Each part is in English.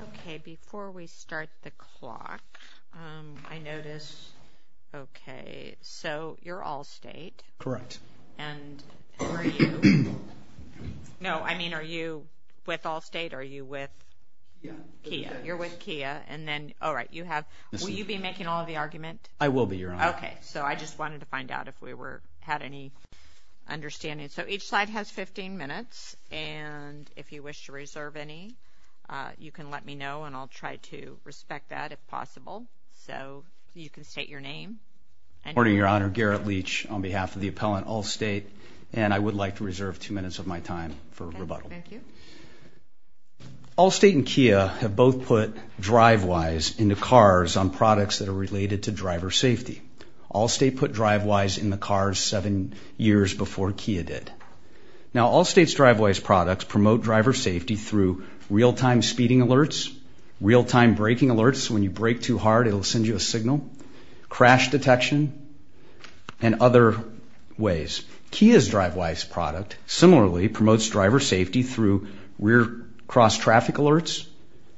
Okay, before we start the clock, I notice, okay, so you're Allstate. Correct. And are you, no, I mean, are you with Allstate or are you with Kia? You're with Kia. And then, all right, you have, will you be making all of the argument? I will be, Your Honor. Okay, so I just wanted to find out if we were, had any understanding. So each slide has 15 minutes, and if you wish to reserve any, you can let me know, and I'll try to respect that if possible. So you can state your name. Good morning, Your Honor. Garrett Leach on behalf of the appellant Allstate, and I would like to reserve two minutes of my time for rebuttal. Okay, thank you. Allstate and Kia have both put DriveWise into cars on products that are related to driver safety. Allstate put DriveWise in the cars seven years before Kia did. Now, Allstate's DriveWise products promote driver safety through real-time speeding alerts, real-time braking alerts, when you brake too hard it will send you a signal, crash detection, and other ways. Kia's DriveWise product similarly promotes driver safety through rear cross-traffic alerts,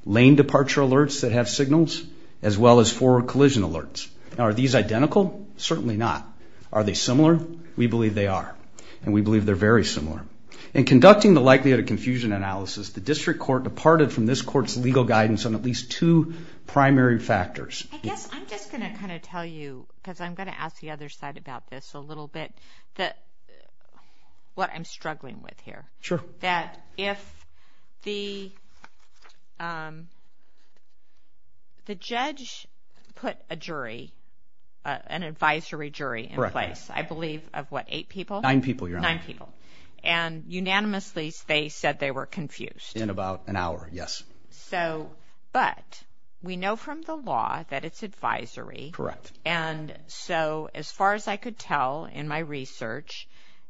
lane departure alerts that have signals, as well as forward collision alerts. Now, are these identical? Certainly not. Are they similar? We believe they are, and we believe they're very similar. In conducting the likelihood of confusion analysis, the district court departed from this court's legal guidance on at least two primary factors. I guess I'm just going to kind of tell you, because I'm going to ask the other side about this a little bit, what I'm struggling with here. Sure. So that if the judge put a jury, an advisory jury in place, I believe of what, eight people? Nine people, Your Honor. Nine people. And unanimously they said they were confused. In about an hour, yes. But we know from the law that it's advisory. Correct. And so as far as I could tell in my research,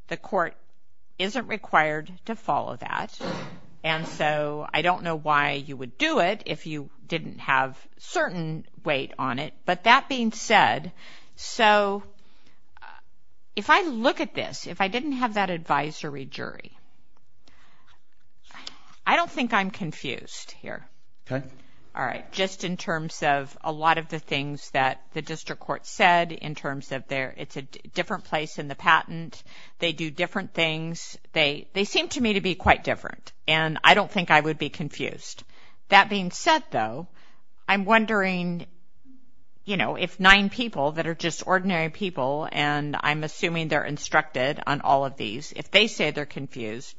the court isn't required to follow that, and so I don't know why you would do it if you didn't have certain weight on it. But that being said, so if I look at this, if I didn't have that advisory jury, I don't think I'm confused here. Okay. All right. Just in terms of a lot of the things that the district court said in terms of it's a different place in the patent, they do different things. They seem to me to be quite different, and I don't think I would be confused. That being said, though, I'm wondering if nine people that are just ordinary people, and I'm assuming they're instructed on all of these, if they say they're confused,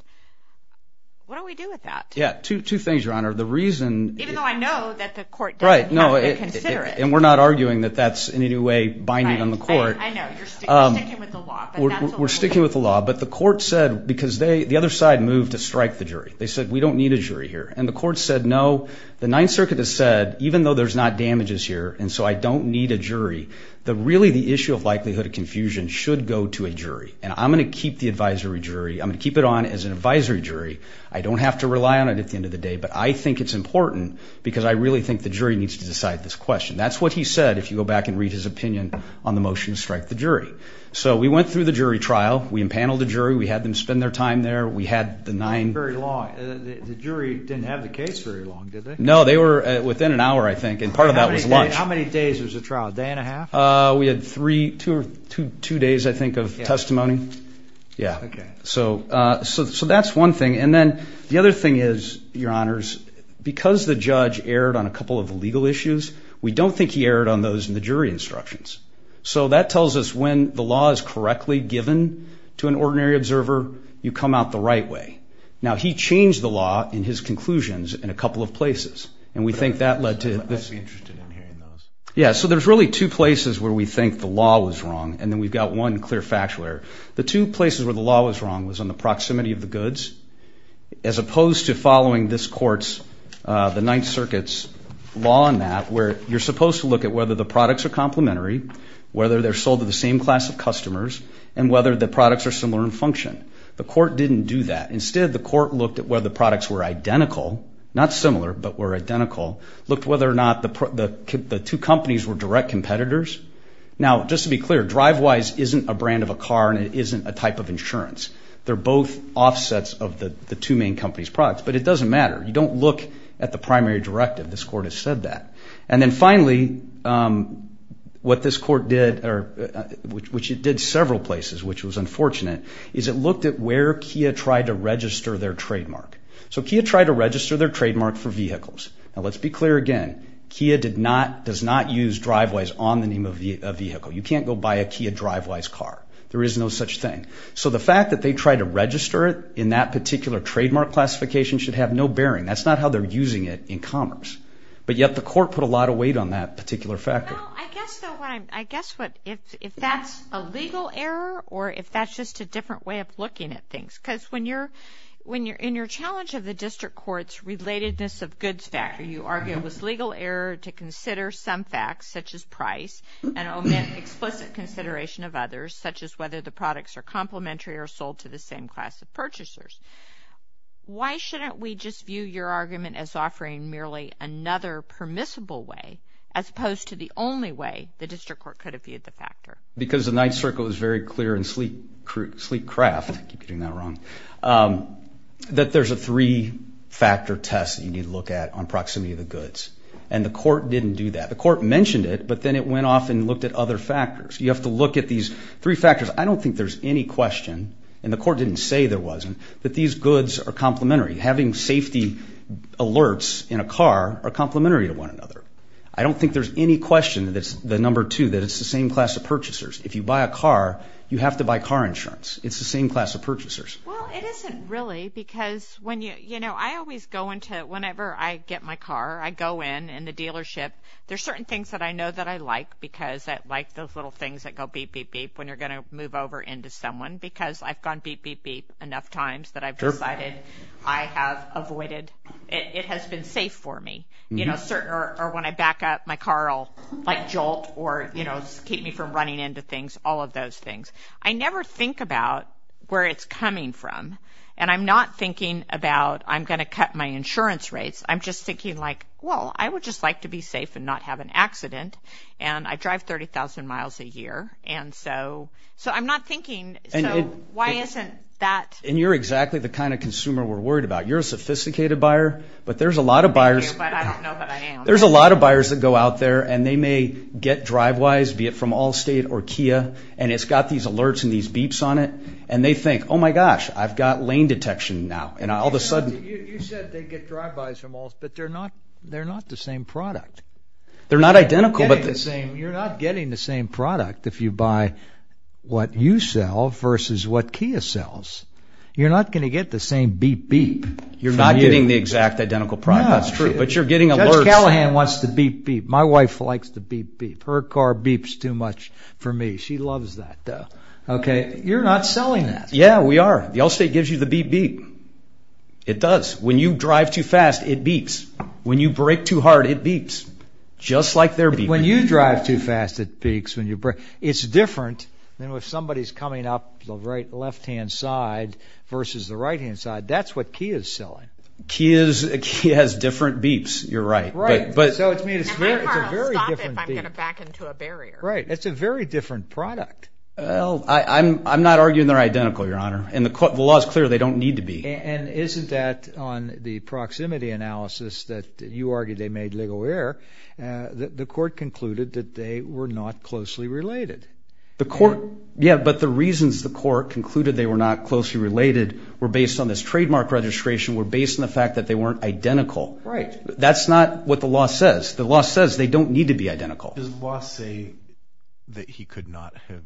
what do we do with that? Yeah. Two things, Your Honor. Even though I know that the court doesn't have to consider it. And we're not arguing that that's in any way binding on the court. I know. You're sticking with the law. We're sticking with the law. But the court said, because the other side moved to strike the jury, they said we don't need a jury here. And the court said, no, the Ninth Circuit has said, even though there's not damages here and so I don't need a jury, that really the issue of likelihood of confusion should go to a jury. And I'm going to keep the advisory jury. I'm going to keep it on as an advisory jury. I don't have to rely on it at the end of the day. But I think it's important because I really think the jury needs to decide this question. That's what he said, if you go back and read his opinion on the motion to strike the jury. So we went through the jury trial. We impaneled the jury. We had them spend their time there. We had the nine. Not very long. The jury didn't have the case very long, did they? No, they were within an hour, I think, and part of that was lunch. How many days was the trial, a day and a half? We had three, two days, I think, of testimony. Yeah. Okay. So that's one thing. And then the other thing is, Your Honors, because the judge erred on a couple of legal issues, we don't think he erred on those in the jury instructions. So that tells us when the law is correctly given to an ordinary observer, you come out the right way. Now, he changed the law in his conclusions in a couple of places, and we think that led to this. I'd be interested in hearing those. Yeah, so there's really two places where we think the law was wrong, and then we've got one clear factual error. The two places where the law was wrong was on the proximity of the goods, as opposed to following this court's, the Ninth Circuit's, law on that, where you're supposed to look at whether the products are complementary, whether they're sold to the same class of customers, and whether the products are similar in function. The court didn't do that. Instead, the court looked at whether the products were identical, not similar, but were identical, looked whether or not the two companies were direct competitors. Now, just to be clear, DriveWise isn't a brand of a car, and it isn't a type of insurance. They're both offsets of the two main companies' products, but it doesn't matter. You don't look at the primary directive. This court has said that. And then finally, what this court did, which it did several places, which was unfortunate, is it looked at where Kia tried to register their trademark. So Kia tried to register their trademark for vehicles. Now, let's be clear again. Kia does not use DriveWise on the name of a vehicle. You can't go buy a Kia DriveWise car. There is no such thing. So the fact that they tried to register it in that particular trademark classification should have no bearing. That's not how they're using it in commerce. But yet the court put a lot of weight on that particular factor. Well, I guess what, if that's a legal error or if that's just a different way of looking at things, because in your challenge of the district court's relatedness of goods factor, you argue it was legal error to consider some facts, such as price, and omit explicit consideration of others, such as whether the products are complementary or sold to the same class of purchasers. Why shouldn't we just view your argument as offering merely another permissible way, as opposed to the only way the district court could have viewed the factor? Because the Ninth Circle is very clear in sleek craft, I keep getting that wrong, that there's a three-factor test that you need to look at on proximity of the goods. And the court didn't do that. The court mentioned it, but then it went off and looked at other factors. You have to look at these three factors. I don't think there's any question, and the court didn't say there wasn't, that these goods are complementary. Having safety alerts in a car are complementary to one another. I don't think there's any question that it's the number two, that it's the same class of purchasers. If you buy a car, you have to buy car insurance. It's the same class of purchasers. Well, it isn't really, because when you, you know, I always go into, whenever I get my car, I go in, in the dealership, there's certain things that I know that I like, because I like those little things that go beep, beep, beep, when you're going to move over into someone, because I've gone beep, beep, beep enough times that I've decided I have avoided, it has been safe for me, you know, or when I back up, my car will, like, jolt, or, you know, keep me from running into things, all of those things. I never think about where it's coming from, and I'm not thinking about I'm going to cut my insurance rates. I'm just thinking, like, well, I would just like to be safe and not have an accident, and I drive 30,000 miles a year, and so I'm not thinking, so why isn't that? And you're exactly the kind of consumer we're worried about. You're a sophisticated buyer, but there's a lot of buyers. Thank you, but I don't know that I am. There's a lot of buyers that go out there, and they may get DriveWise, be it from Allstate or Kia, and it's got these alerts and these beeps on it, and they think, oh, my gosh, I've got lane detection now, and all of a sudden. You said they get DriveWise from Allstate, but they're not the same product. They're not identical, but this. You're not getting the same product if you buy what you sell versus what Kia sells. You're not going to get the same beep-beep from you. You're not getting the exact identical product. That's true, but you're getting alerts. Judge Callahan wants the beep-beep. My wife likes the beep-beep. Her car beeps too much for me. She loves that, though. You're not selling that. Yeah, we are. The Allstate gives you the beep-beep. It does. When you drive too fast, it beeps. When you brake too hard, it beeps, just like their beep-beep. When you drive too fast, it beeps. It's different than if somebody's coming up the left-hand side versus the right-hand side. That's what Kia is selling. Kia has different beeps. You're right. My car will stop if I'm going to back into a barrier. Right. It's a very different product. I'm not arguing they're identical, Your Honor, and the law is clear they don't need to be. And isn't that, on the proximity analysis that you argued they made legal error, the court concluded that they were not closely related. Yeah, but the reasons the court concluded they were not closely related were based on this trademark registration, were based on the fact that they weren't identical. Right. That's not what the law says. The law says they don't need to be identical. Does the law say that he could not have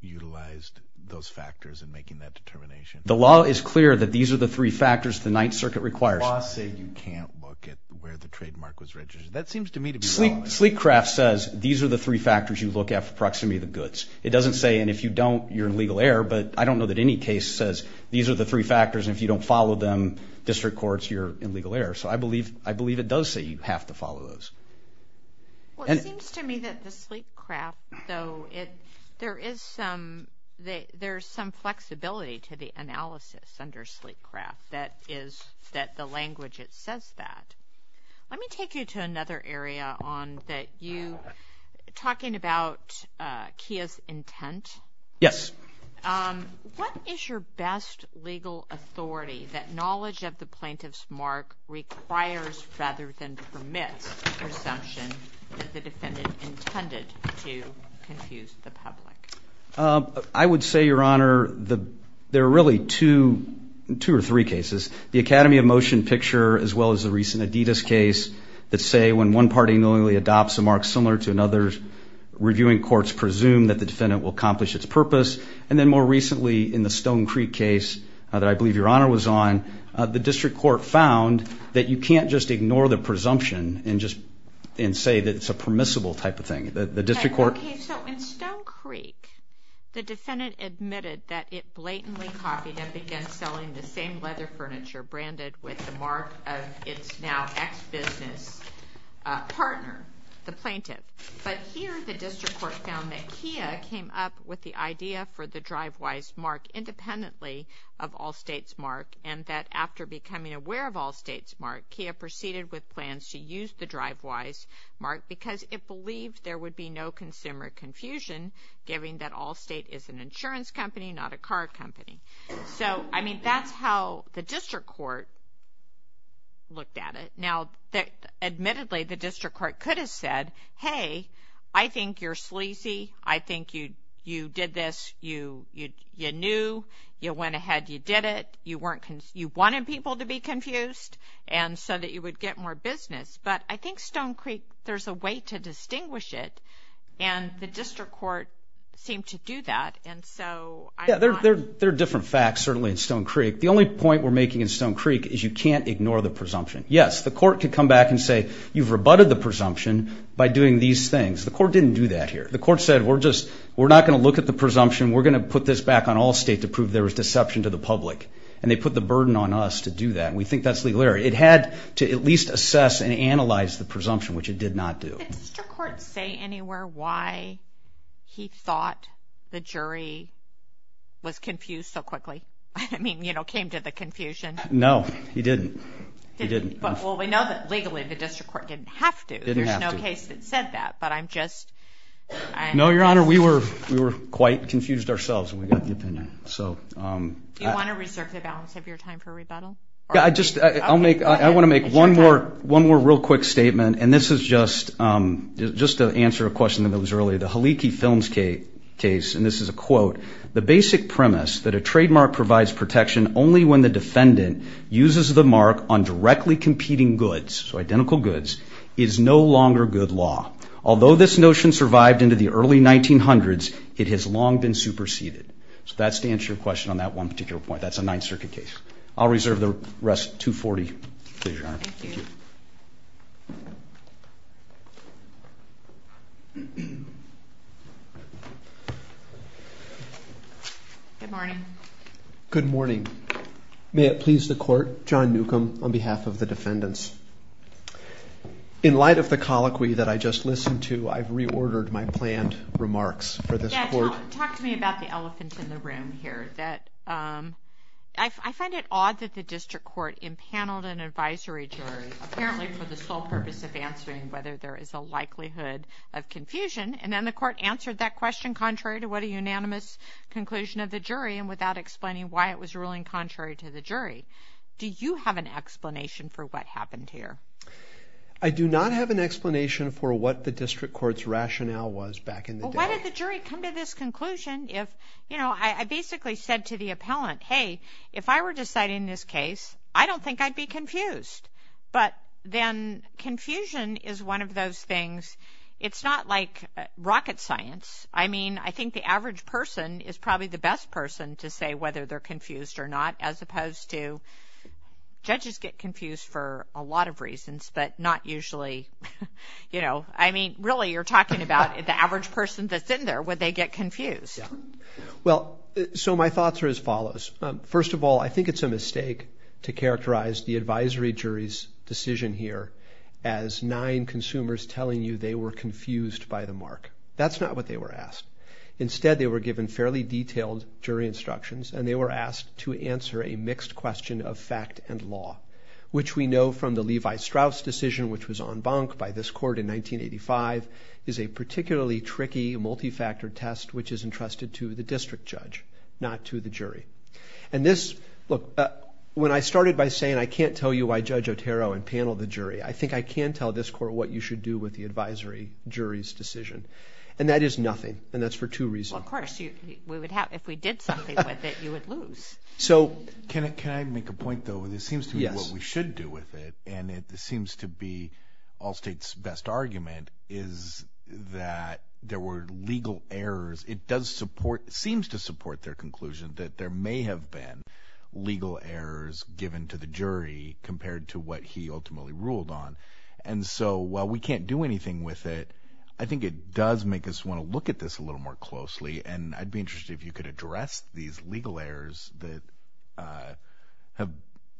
utilized those factors in making that determination? The law is clear that these are the three factors the Ninth Circuit requires. The law said you can't look at where the trademark was registered. That seems to me to be wrong. Sleekcraft says these are the three factors you look at for proximity of the goods. It doesn't say, and if you don't, you're in legal error. But I don't know that any case says these are the three factors, and if you don't follow them, district courts, you're in legal error. So I believe it does say you have to follow those. Well, it seems to me that the Sleekcraft, though, there is some flexibility to the analysis under Sleekcraft that the language, it says that. Let me take you to another area on that you, talking about Kia's intent. Yes. What is your best legal authority that knowledge of the plaintiff's mark requires rather than permits your assumption that the defendant intended to confuse the public? I would say, Your Honor, there are really two or three cases. The Academy of Motion picture, as well as the recent Adidas case, that say when one party knowingly adopts a mark similar to another's, reviewing courts presume that the defendant will accomplish its purpose. And then more recently in the Stone Creek case that I believe Your Honor was on, the district court found that you can't just ignore the presumption and say that it's a permissible type of thing. So in Stone Creek, the defendant admitted that it blatantly copied and began selling the same leather furniture branded with the mark of its now ex-business partner, the plaintiff. But here the district court found that Kia came up with the idea for the drive-wise mark independently of Allstate's mark, and that after becoming aware of Allstate's mark, Kia proceeded with plans to use the drive-wise mark because it believed there would be no consumer confusion, given that Allstate is an insurance company, not a car company. So, I mean, that's how the district court looked at it. Now, admittedly, the district court could have said, Hey, I think you're sleazy, I think you did this, you knew, you went ahead, you did it, you wanted people to be confused. And so that you would get more business. But I think Stone Creek, there's a way to distinguish it, and the district court seemed to do that, and so I'm not... Yeah, there are different facts, certainly, in Stone Creek. The only point we're making in Stone Creek is you can't ignore the presumption. Yes, the court could come back and say, You've rebutted the presumption by doing these things. The court didn't do that here. The court said, We're just, we're not going to look at the presumption, we're going to put this back on Allstate to prove there was deception to the public. And they put the burden on us to do that. And we think that's legal error. It had to at least assess and analyze the presumption, which it did not do. Did the district court say anywhere why he thought the jury was confused so quickly? I mean, you know, came to the confusion. No, he didn't. Well, we know that legally the district court didn't have to. There's no case that said that, but I'm just... No, Your Honor, we were quite confused ourselves when we got the opinion. Do you want to reserve the balance of your time for rebuttal? I want to make one more real quick statement, and this is just to answer a question that was earlier. The Haliki Films case, and this is a quote, the basic premise that a trademark provides protection only when the defendant uses the mark on directly competing goods, so identical goods, is no longer good law. Although this notion survived into the early 1900s, it has long been superseded. So that's to answer your question on that one particular point. That's a Ninth Circuit case. I'll reserve the rest 240, please, Your Honor. Thank you. Good morning. Good morning. May it please the Court, John Newcomb on behalf of the defendants. In light of the colloquy that I just listened to, I've reordered my planned remarks for this court. Yeah, talk to me about the elephant in the room here. I find it odd that the district court impaneled an advisory jury, apparently for the sole purpose of answering whether there is a likelihood of confusion, and then the court answered that question contrary to what a unanimous conclusion of the jury and without explaining why it was ruling contrary to the jury. Do you have an explanation for what happened here? I do not have an explanation for what the district court's rationale was back in the day. Why did the jury come to this conclusion if, you know, I basically said to the appellant, hey, if I were deciding this case, I don't think I'd be confused. But then confusion is one of those things. It's not like rocket science. I mean, I think the average person is probably the best person to say whether they're confused or not, as opposed to judges get confused for a lot of reasons but not usually, you know. I mean, really, you're talking about the average person that's in there, would they get confused? Well, so my thoughts are as follows. First of all, I think it's a mistake to characterize the advisory jury's decision here as nine consumers telling you they were confused by the mark. That's not what they were asked. Instead, they were given fairly detailed jury instructions, and they were asked to answer a mixed question of fact and law, which we know from the Levi-Strauss decision, which was en banc by this court in 1985, is a particularly tricky multifactor test which is entrusted to the district judge, not to the jury. And this, look, when I started by saying I can't tell you why Judge Otero impaneled the jury, I think I can tell this court what you should do with the advisory jury's decision, and that is nothing, and that's for two reasons. Well, of course. If we did something with it, you would lose. So can I make a point, though? This seems to be what we should do with it, and it seems to be Allstate's best argument is that there were legal errors. It does support, seems to support their conclusion that there may have been legal errors given to the jury compared to what he ultimately ruled on. And so while we can't do anything with it, I think it does make us want to look at this a little more closely, and I'd be interested if you could address these legal errors that have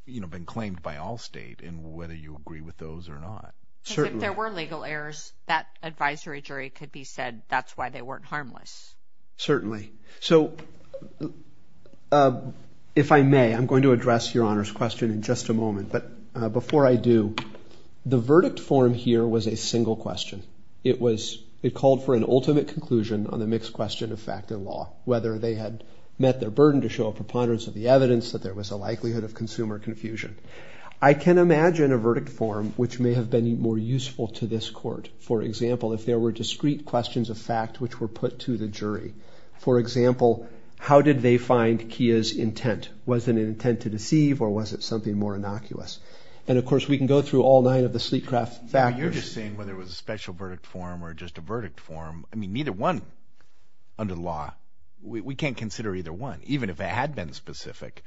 been claimed by Allstate and whether you agree with those or not. Because if there were legal errors, that advisory jury could be said that's why they weren't harmless. Certainly. So if I may, I'm going to address Your Honor's question in just a moment. But before I do, the verdict form here was a single question. It called for an ultimate conclusion on the mixed question of fact and law, whether they had met their burden to show a preponderance of the evidence, that there was a likelihood of consumer confusion. I can imagine a verdict form which may have been more useful to this court. For example, if there were discrete questions of fact which were put to the jury. For example, how did they find Kia's intent? Was it an intent to deceive, or was it something more innocuous? And, of course, we can go through all nine of the Sleetcraft factors. You're just saying whether it was a special verdict form or just a verdict form. I mean, neither one under the law. We can't consider either one. Even if it had been specific,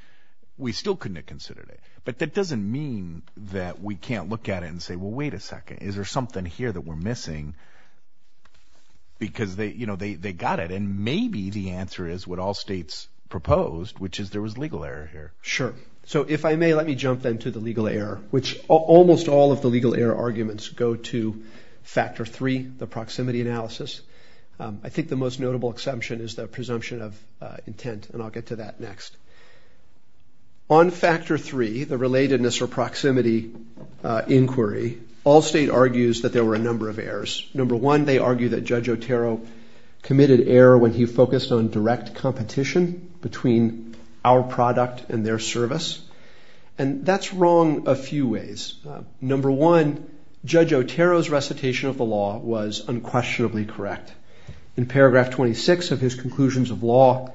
we still couldn't have considered it. But that doesn't mean that we can't look at it and say, well, wait a second. Is there something here that we're missing? Because they got it, and maybe the answer is what Allstate's proposed, which is there was legal error here. Sure. So if I may, let me jump then to the legal error, which almost all of the legal error arguments go to factor three, the proximity analysis. I think the most notable assumption is the presumption of intent, and I'll get to that next. On factor three, the relatedness or proximity inquiry, Allstate argues that there were a number of errors. Number one, they argue that Judge Otero committed error when he focused on direct competition between our product and their service. And that's wrong a few ways. Number one, Judge Otero's recitation of the law was unquestionably correct. In paragraph 26 of his conclusions of law,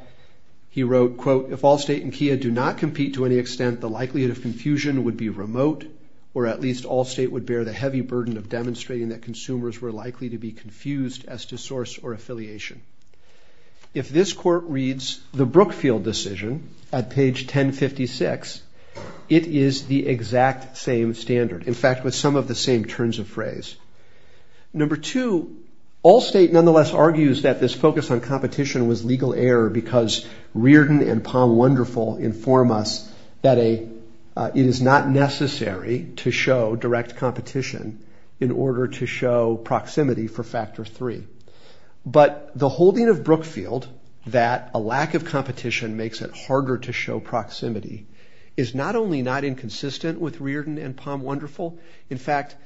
he wrote, quote, if Allstate and Kia do not compete to any extent, the likelihood of confusion would be remote, or at least Allstate would bear the heavy burden of demonstrating that consumers were likely to be confused as to source or affiliation. If this court reads the Brookfield decision at page 1056, it is the exact same standard. In fact, with some of the same turns of phrase. Number two, Allstate nonetheless argues that this focus on competition was legal error because Reardon and Palm Wonderful inform us that it is not necessary to show direct competition in order to show proximity for factor three. But the holding of Brookfield that a lack of competition makes it harder to show proximity is not only not inconsistent with Reardon and Palm Wonderful, in fact,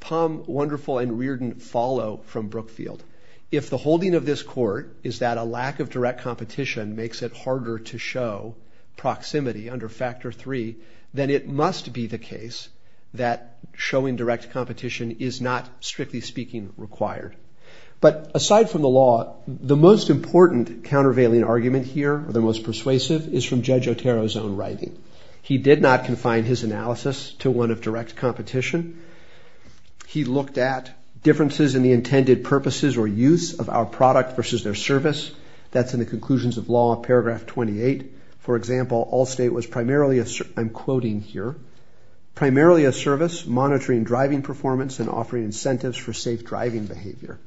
Palm Wonderful and Reardon follow from Brookfield. If the holding of this court is that a lack of direct competition makes it harder to show proximity under factor three, then it must be the case that showing direct competition is not, strictly speaking, required. But aside from the law, the most important countervailing argument here, or the most persuasive, is from Judge Otero's own writing. He did not confine his analysis to one of direct competition. He looked at differences in the intended purposes or use of our product versus their service. That's in the conclusions of law, paragraph 28. For example, Allstate was primarily, I'm quoting here, primarily a service monitoring driving performance and offering incentives for safe driving behavior.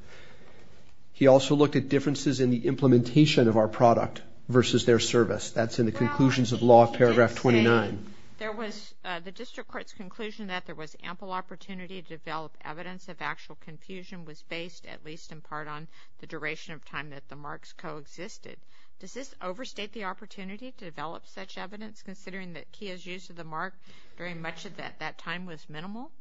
He also looked at differences in the implementation of our product versus their service. That's in the conclusions of law, paragraph 29. The district court's conclusion that there was ample opportunity to develop evidence of actual confusion was based, at least in part, on the duration of time that the marks coexisted. Does this overstate the opportunity to develop such evidence, considering that Kia's use of the mark during much of that time was minimal?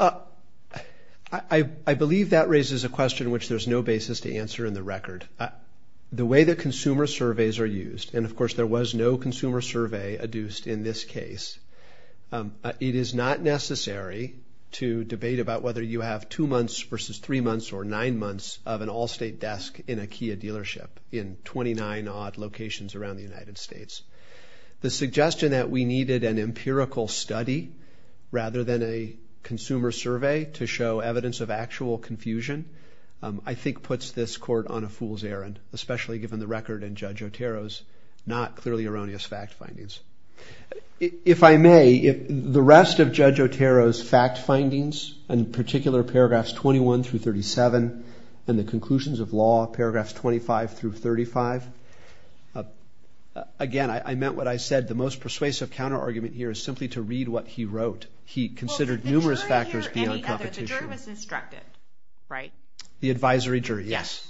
I believe that raises a question which there's no basis to answer in the record. The way that consumer surveys are used, and of course there was no consumer survey adduced in this case, it is not necessary to debate about whether you have two months versus three months or nine months of an Allstate desk in a Kia dealership in 29-odd locations around the United States. The suggestion that we needed an empirical study rather than a consumer survey to show evidence of actual confusion I think puts this court on a fool's errand, especially given the record in Judge Otero's not clearly erroneous fact findings. If I may, the rest of Judge Otero's fact findings, in particular paragraphs 21 through 37, and the conclusions of law, paragraphs 25 through 35, again, I meant what I said. The most persuasive counterargument here is simply to read what he wrote. He considered numerous factors beyond competition. The jury was instructed, right? The advisory jury, yes.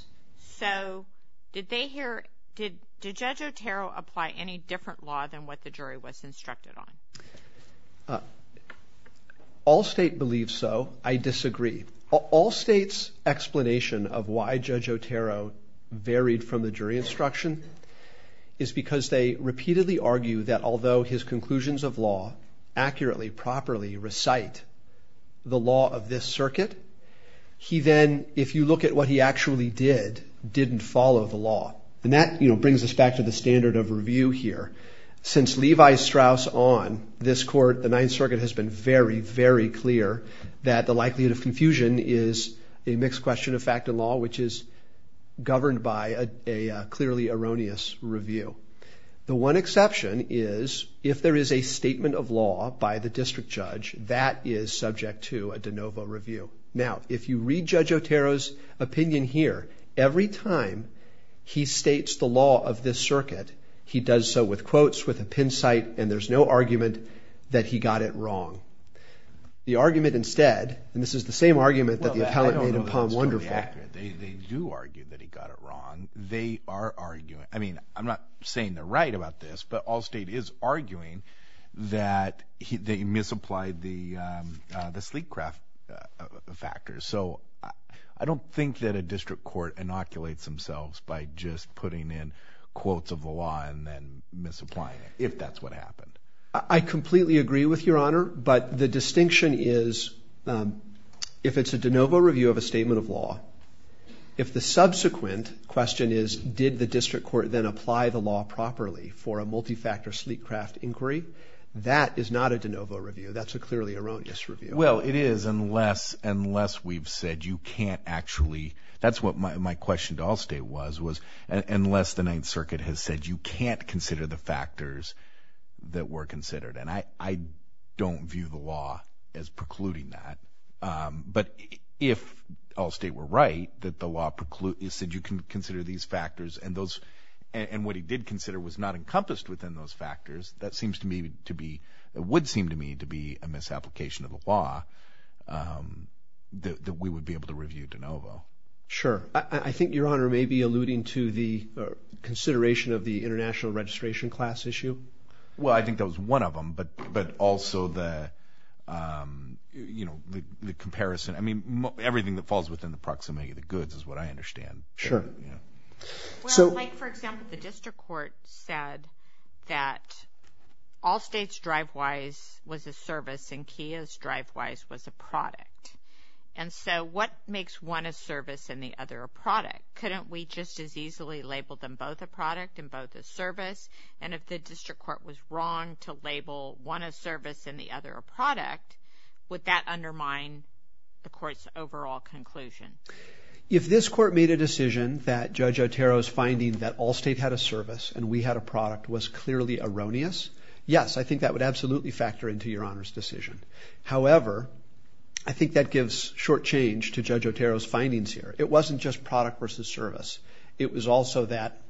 So did Judge Otero apply any different law than what the jury was instructed on? Allstate believes so. I disagree. Allstate's explanation of why Judge Otero varied from the jury instruction is because they repeatedly argue that although his conclusions of law accurately, properly recite the law of this circuit, he then, if you look at what he actually did, didn't follow the law. And that brings us back to the standard of review here. Since Levi Strauss on this court, the Ninth Circuit has been very, very clear that the likelihood of confusion is a mixed question of fact and law, which is governed by a clearly erroneous review. The one exception is if there is a statement of law by the district judge that is subject to a de novo review. Now, if you read Judge Otero's opinion here, every time he states the law of this circuit, he does so with quotes, with a pin site, and there's no argument that he got it wrong. The argument instead, and this is the same argument that the appellate made in Palm Wonderful. They do argue that he got it wrong. They are arguing, I mean, I'm not saying they're right about this, but Allstate is arguing that he misapplied the sleek craft factor. So I don't think that a district court inoculates themselves by just putting in quotes of the law and then misapplying it, if that's what happened. I completely agree with Your Honor, but the distinction is, if it's a de novo review of a statement of law, if the subsequent question is, did the district court then apply the law properly for a multi-factor sleek craft inquiry, that is not a de novo review. That's a clearly erroneous review. Well, it is, unless we've said you can't actually, that's what my question to Allstate was, unless the Ninth Circuit has said you can't consider the factors that were considered, and I don't view the law as precluding that. But if Allstate were right, that the law precludes that you can consider these factors, and what he did consider was not encompassed within those factors, that would seem to me to be a misapplication of the law that we would be able to review de novo. Sure. I think Your Honor may be alluding to the consideration of the international registration class issue. Well, I think that was one of them, but also the comparison. I mean, everything that falls within the proximity of the goods is what I understand. Sure. Well, Mike, for example, the district court said that Allstate's drive-wise was a service and Kia's drive-wise was a product. And so what makes one a service and the other a product? Couldn't we just as easily label them both a product and both a service? And if the district court was wrong to label one a service and the other a product, would that undermine the court's overall conclusion? If this court made a decision that Judge Otero's finding that Allstate had a service and we had a product was clearly erroneous, yes, I think that would absolutely factor into Your Honor's decision. However, I think that gives short change to Judge Otero's findings here. It wasn't just product versus service. It was also that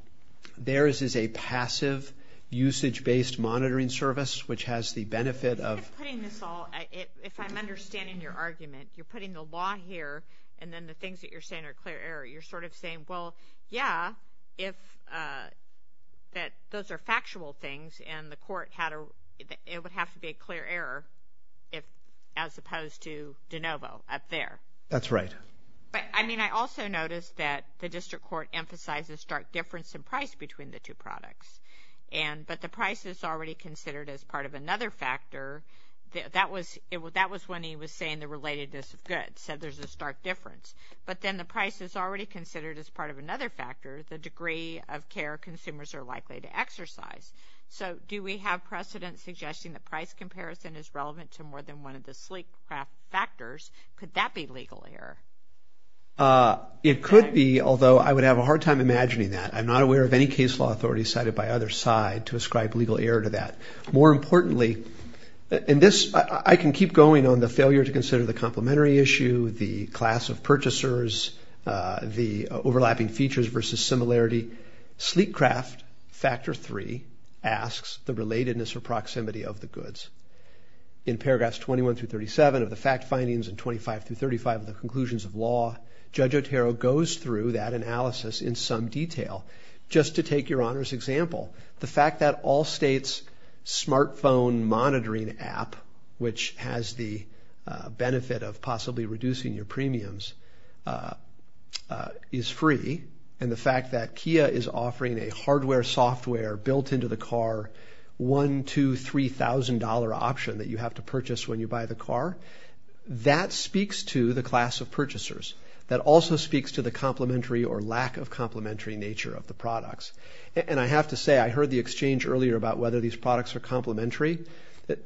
theirs is a passive usage-based monitoring service, which has the benefit of If I'm understanding your argument, you're putting the law here and then the things that you're saying are clear error. You're sort of saying, well, yeah, those are factual things and it would have to be a clear error as opposed to de novo up there. That's right. I mean, I also noticed that the district court emphasized the stark difference in price between the two products, but the price is already considered as part of another factor. That was when he was saying the relatedness of goods, said there's a stark difference. But then the price is already considered as part of another factor, the degree of care consumers are likely to exercise. So do we have precedent suggesting the price comparison is relevant to more than one of the sleek factors? Could that be legal error? It could be, although I would have a hard time imagining that. I'm not aware of any case law authority cited by either side to ascribe legal error to that. More importantly, and this I can keep going on the failure to consider the complementary issue, the class of purchasers, the overlapping features versus similarity. Sleek craft factor three asks the relatedness or proximity of the goods. In paragraphs 21 through 37 of the fact findings and 25 through 35 of the conclusions of law, Judge Otero goes through that analysis in some detail. Just to take your Honor's example, the fact that all states' smartphone monitoring app, which has the benefit of possibly reducing your premiums, is free, and the fact that Kia is offering a hardware software built into the car, $1,000, $2,000, $3,000 option that you have to purchase when you buy the car, that speaks to the class of purchasers. That also speaks to the complementary or lack of complementary nature of the products. And I have to say, I heard the exchange earlier about whether these products are complementary.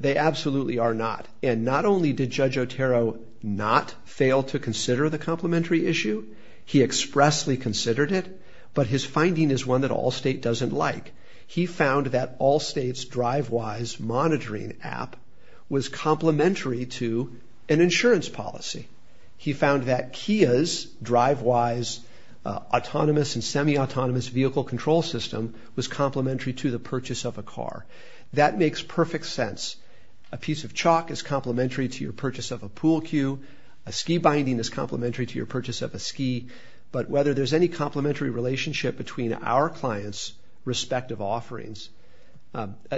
They absolutely are not. And not only did Judge Otero not fail to consider the complementary issue, he expressly considered it, but his finding is one that all states doesn't like. He found that all states' DriveWise monitoring app was complementary to an insurance policy. He found that Kia's DriveWise autonomous and semi-autonomous vehicle control system was complementary to the purchase of a car. That makes perfect sense. A piece of chalk is complementary to your purchase of a pool cue. A ski binding is complementary to your purchase of a ski. But whether there's any complementary relationship between our clients' respective offerings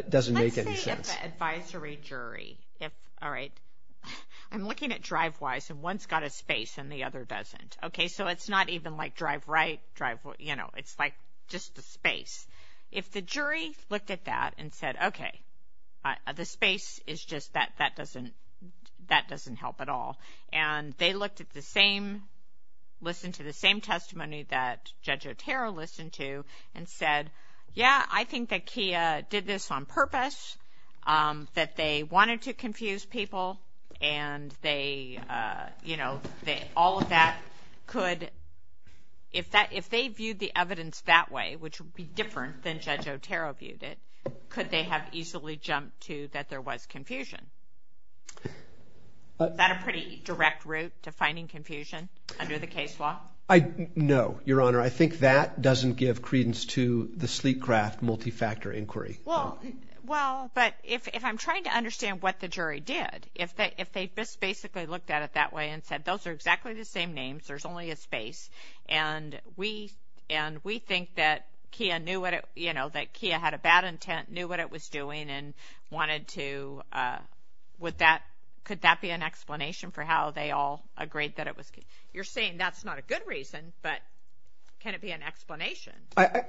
doesn't make any sense. Let's say if an advisory jury, if, all right, I'm looking at DriveWise and one's got a space and the other doesn't. Okay, so it's not even like drive right, drive, you know, it's like just the space. If the jury looked at that and said, okay, the space is just, that doesn't help at all. And they looked at the same, listened to the same testimony that Judge Otero listened to and said, yeah, I think that Kia did this on purpose, that they wanted to confuse people, and they, you know, all of that could, if they viewed the evidence that way, which would be different than Judge Otero viewed it, could they have easily jumped to that there was confusion? Is that a pretty direct route to finding confusion under the case law? No, Your Honor. I think that doesn't give credence to the sleek craft multi-factor inquiry. Well, but if I'm trying to understand what the jury did, if they just basically looked at it that way and said, those are exactly the same names, there's only a space, and we think that Kia knew what it, you know, that Kia had a bad intent, knew what it was doing, and wanted to, would that, could that be an explanation for how they all agreed that it was Kia? You're saying that's not a good reason, but can it be an explanation?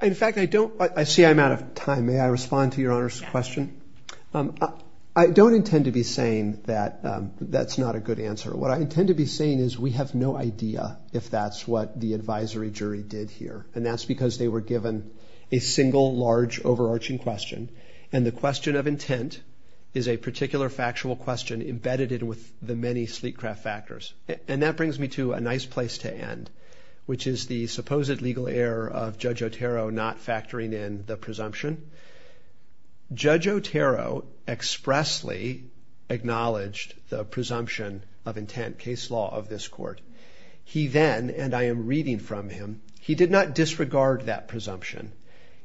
In fact, I don't, I see I'm out of time. May I respond to Your Honor's question? Yes. I don't intend to be saying that that's not a good answer. What I intend to be saying is we have no idea if that's what the advisory jury did here, and that's because they were given a single, large, overarching question, and the question of intent is a particular factual question embedded in with the many sleek craft factors. And that brings me to a nice place to end, which is the supposed legal error of Judge Otero not factoring in the presumption. Judge Otero expressly acknowledged the presumption of intent case law of this court. He then, and I am reading from him, he did not disregard that presumption.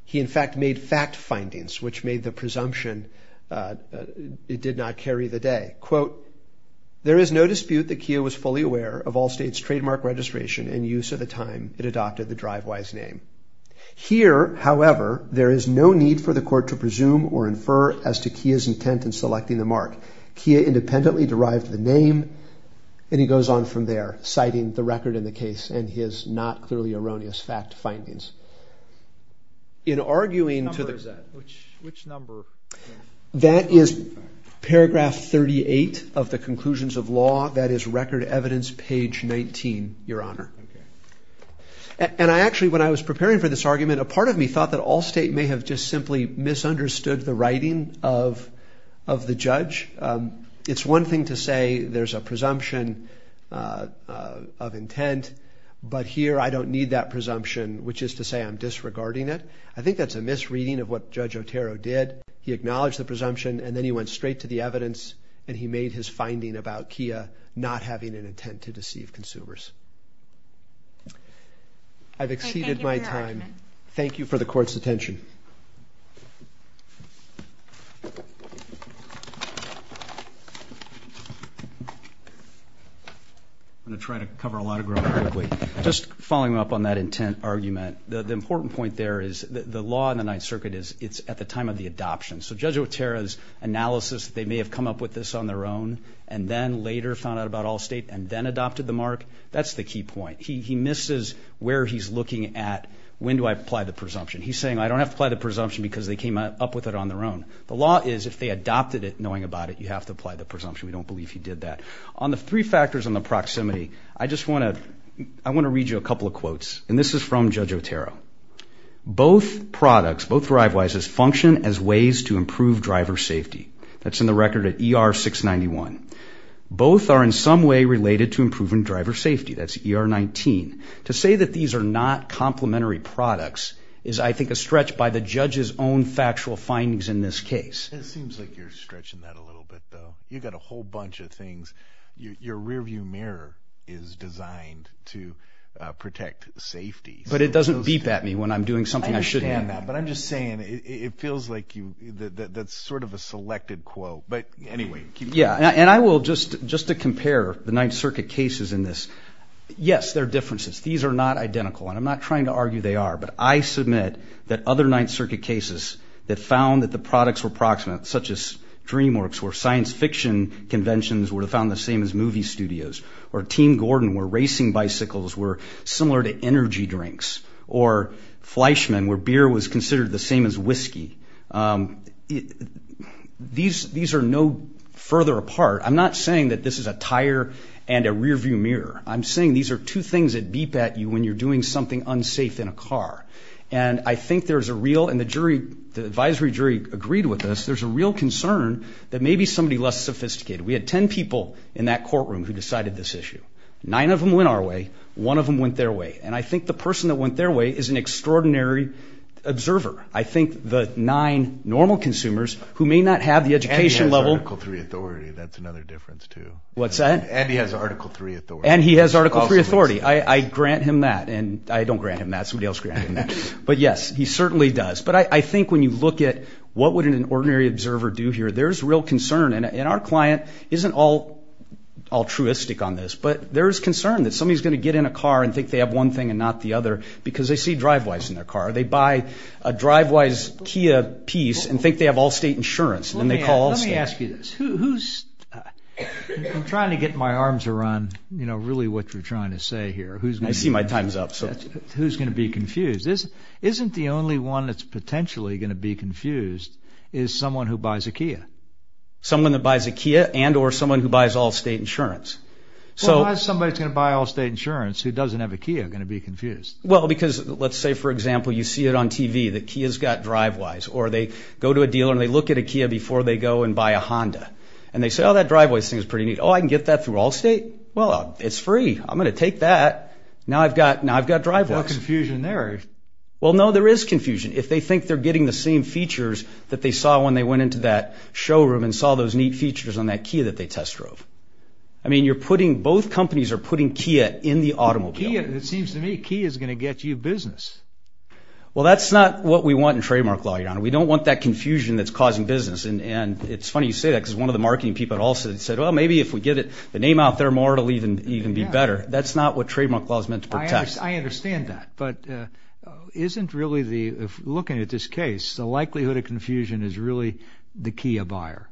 He, in fact, made fact findings which made the presumption, it did not carry the day. Quote, there is no dispute that Kia was fully aware of Allstate's trademark registration and use of the time it adopted the drive-wise name. Here, however, there is no need for the court to presume or infer as to Kia's intent in selecting the mark. Kia independently derived the name, and he goes on from there, citing the record in the case and his not clearly erroneous fact findings. In arguing to the- Which number is that? That is paragraph 38 of the conclusions of law. That is record evidence page 19, Your Honor. And I actually, when I was preparing for this argument, a part of me thought that Allstate may have just simply misunderstood the writing of the judge. But here, I don't need that presumption, which is to say I'm disregarding it. I think that's a misreading of what Judge Otero did. He acknowledged the presumption, and then he went straight to the evidence, and he made his finding about Kia not having an intent to deceive consumers. I've exceeded my time. Thank you for the court's attention. Thank you. I'm going to try to cover a lot of ground quickly. Just following up on that intent argument, the important point there is the law in the Ninth Circuit is it's at the time of the adoption. So Judge Otero's analysis, they may have come up with this on their own and then later found out about Allstate and then adopted the mark, that's the key point. He misses where he's looking at when do I apply the presumption. He's saying I don't have to apply the presumption because they came up with it on their own. The law is if they adopted it knowing about it, you have to apply the presumption. We don't believe he did that. On the three factors on the proximity, I just want to read you a couple of quotes, and this is from Judge Otero. Both products, both DriveWises, function as ways to improve driver safety. That's in the record at ER-691. Both are in some way related to improving driver safety. That's ER-19. To say that these are not complementary products is, I think, a stretch by the judge's own factual findings in this case. It seems like you're stretching that a little bit, though. You've got a whole bunch of things. Your rearview mirror is designed to protect safety. But it doesn't beep at me when I'm doing something I shouldn't be doing. I understand that, but I'm just saying it feels like that's sort of a selected quote. But anyway, keep going. Yeah, and I will just to compare the Ninth Circuit cases in this. Yes, there are differences. These are not identical, and I'm not trying to argue they are. But I submit that other Ninth Circuit cases that found that the products were proximate, such as DreamWorks, where science fiction conventions were found the same as movie studios, or Team Gordon, where racing bicycles were similar to energy drinks, or Fleischmann, where beer was considered the same as whiskey. These are no further apart. I'm not saying that this is a tire and a rearview mirror. I'm saying these are two things that beep at you when you're doing something unsafe in a car. And I think there's a real, and the advisory jury agreed with this, there's a real concern that maybe somebody less sophisticated. We had ten people in that courtroom who decided this issue. Nine of them went our way. One of them went their way. And I think the person that went their way is an extraordinary observer. I think the nine normal consumers who may not have the education level. Article III authority, that's another difference, too. What's that? And he has Article III authority. And he has Article III authority. I grant him that. And I don't grant him that. Somebody else granted him that. But, yes, he certainly does. But I think when you look at what would an ordinary observer do here, there's real concern. And our client isn't altruistic on this, but there's concern that somebody's going to get in a car and think they have one thing and not the other because they see DriveWise in their car. They buy a DriveWise Kia piece and think they have Allstate insurance. Let me ask you this. I'm trying to get my arms around really what you're trying to say here. I see my time's up. Who's going to be confused? Isn't the only one that's potentially going to be confused is someone who buys a Kia? Someone that buys a Kia and or someone who buys Allstate insurance. Why is somebody who's going to buy Allstate insurance who doesn't have a Kia going to be confused? Well, because, let's say, for example, you see it on TV that Kia's got DriveWise. Or they go to a dealer and they look at a Kia before they go and buy a Honda. And they say, oh, that DriveWise thing is pretty neat. Oh, I can get that through Allstate? Well, it's free. I'm going to take that. Now I've got DriveWise. There's no confusion there. Well, no, there is confusion. If they think they're getting the same features that they saw when they went into that showroom and saw those neat features on that Kia that they test drove. I mean, both companies are putting Kia in the automobile. It seems to me Kia's going to get you business. Well, that's not what we want in trademark law, Your Honor. We don't want that confusion that's causing business. And it's funny you say that because one of the marketing people at Allstate said, well, maybe if we get the name out there more it will even be better. That's not what trademark law is meant to protect. I understand that. But isn't really looking at this case, the likelihood of confusion is really the Kia buyer?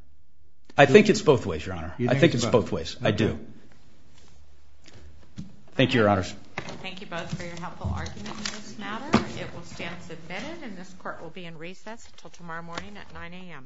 I think it's both ways, Your Honor. I think it's both ways. I do. Thank you, Your Honors. Thank you both for your helpful arguments in this matter. It will stand submitted, and this court will be in recess until tomorrow morning at 9 a.m. Thank you. All rise.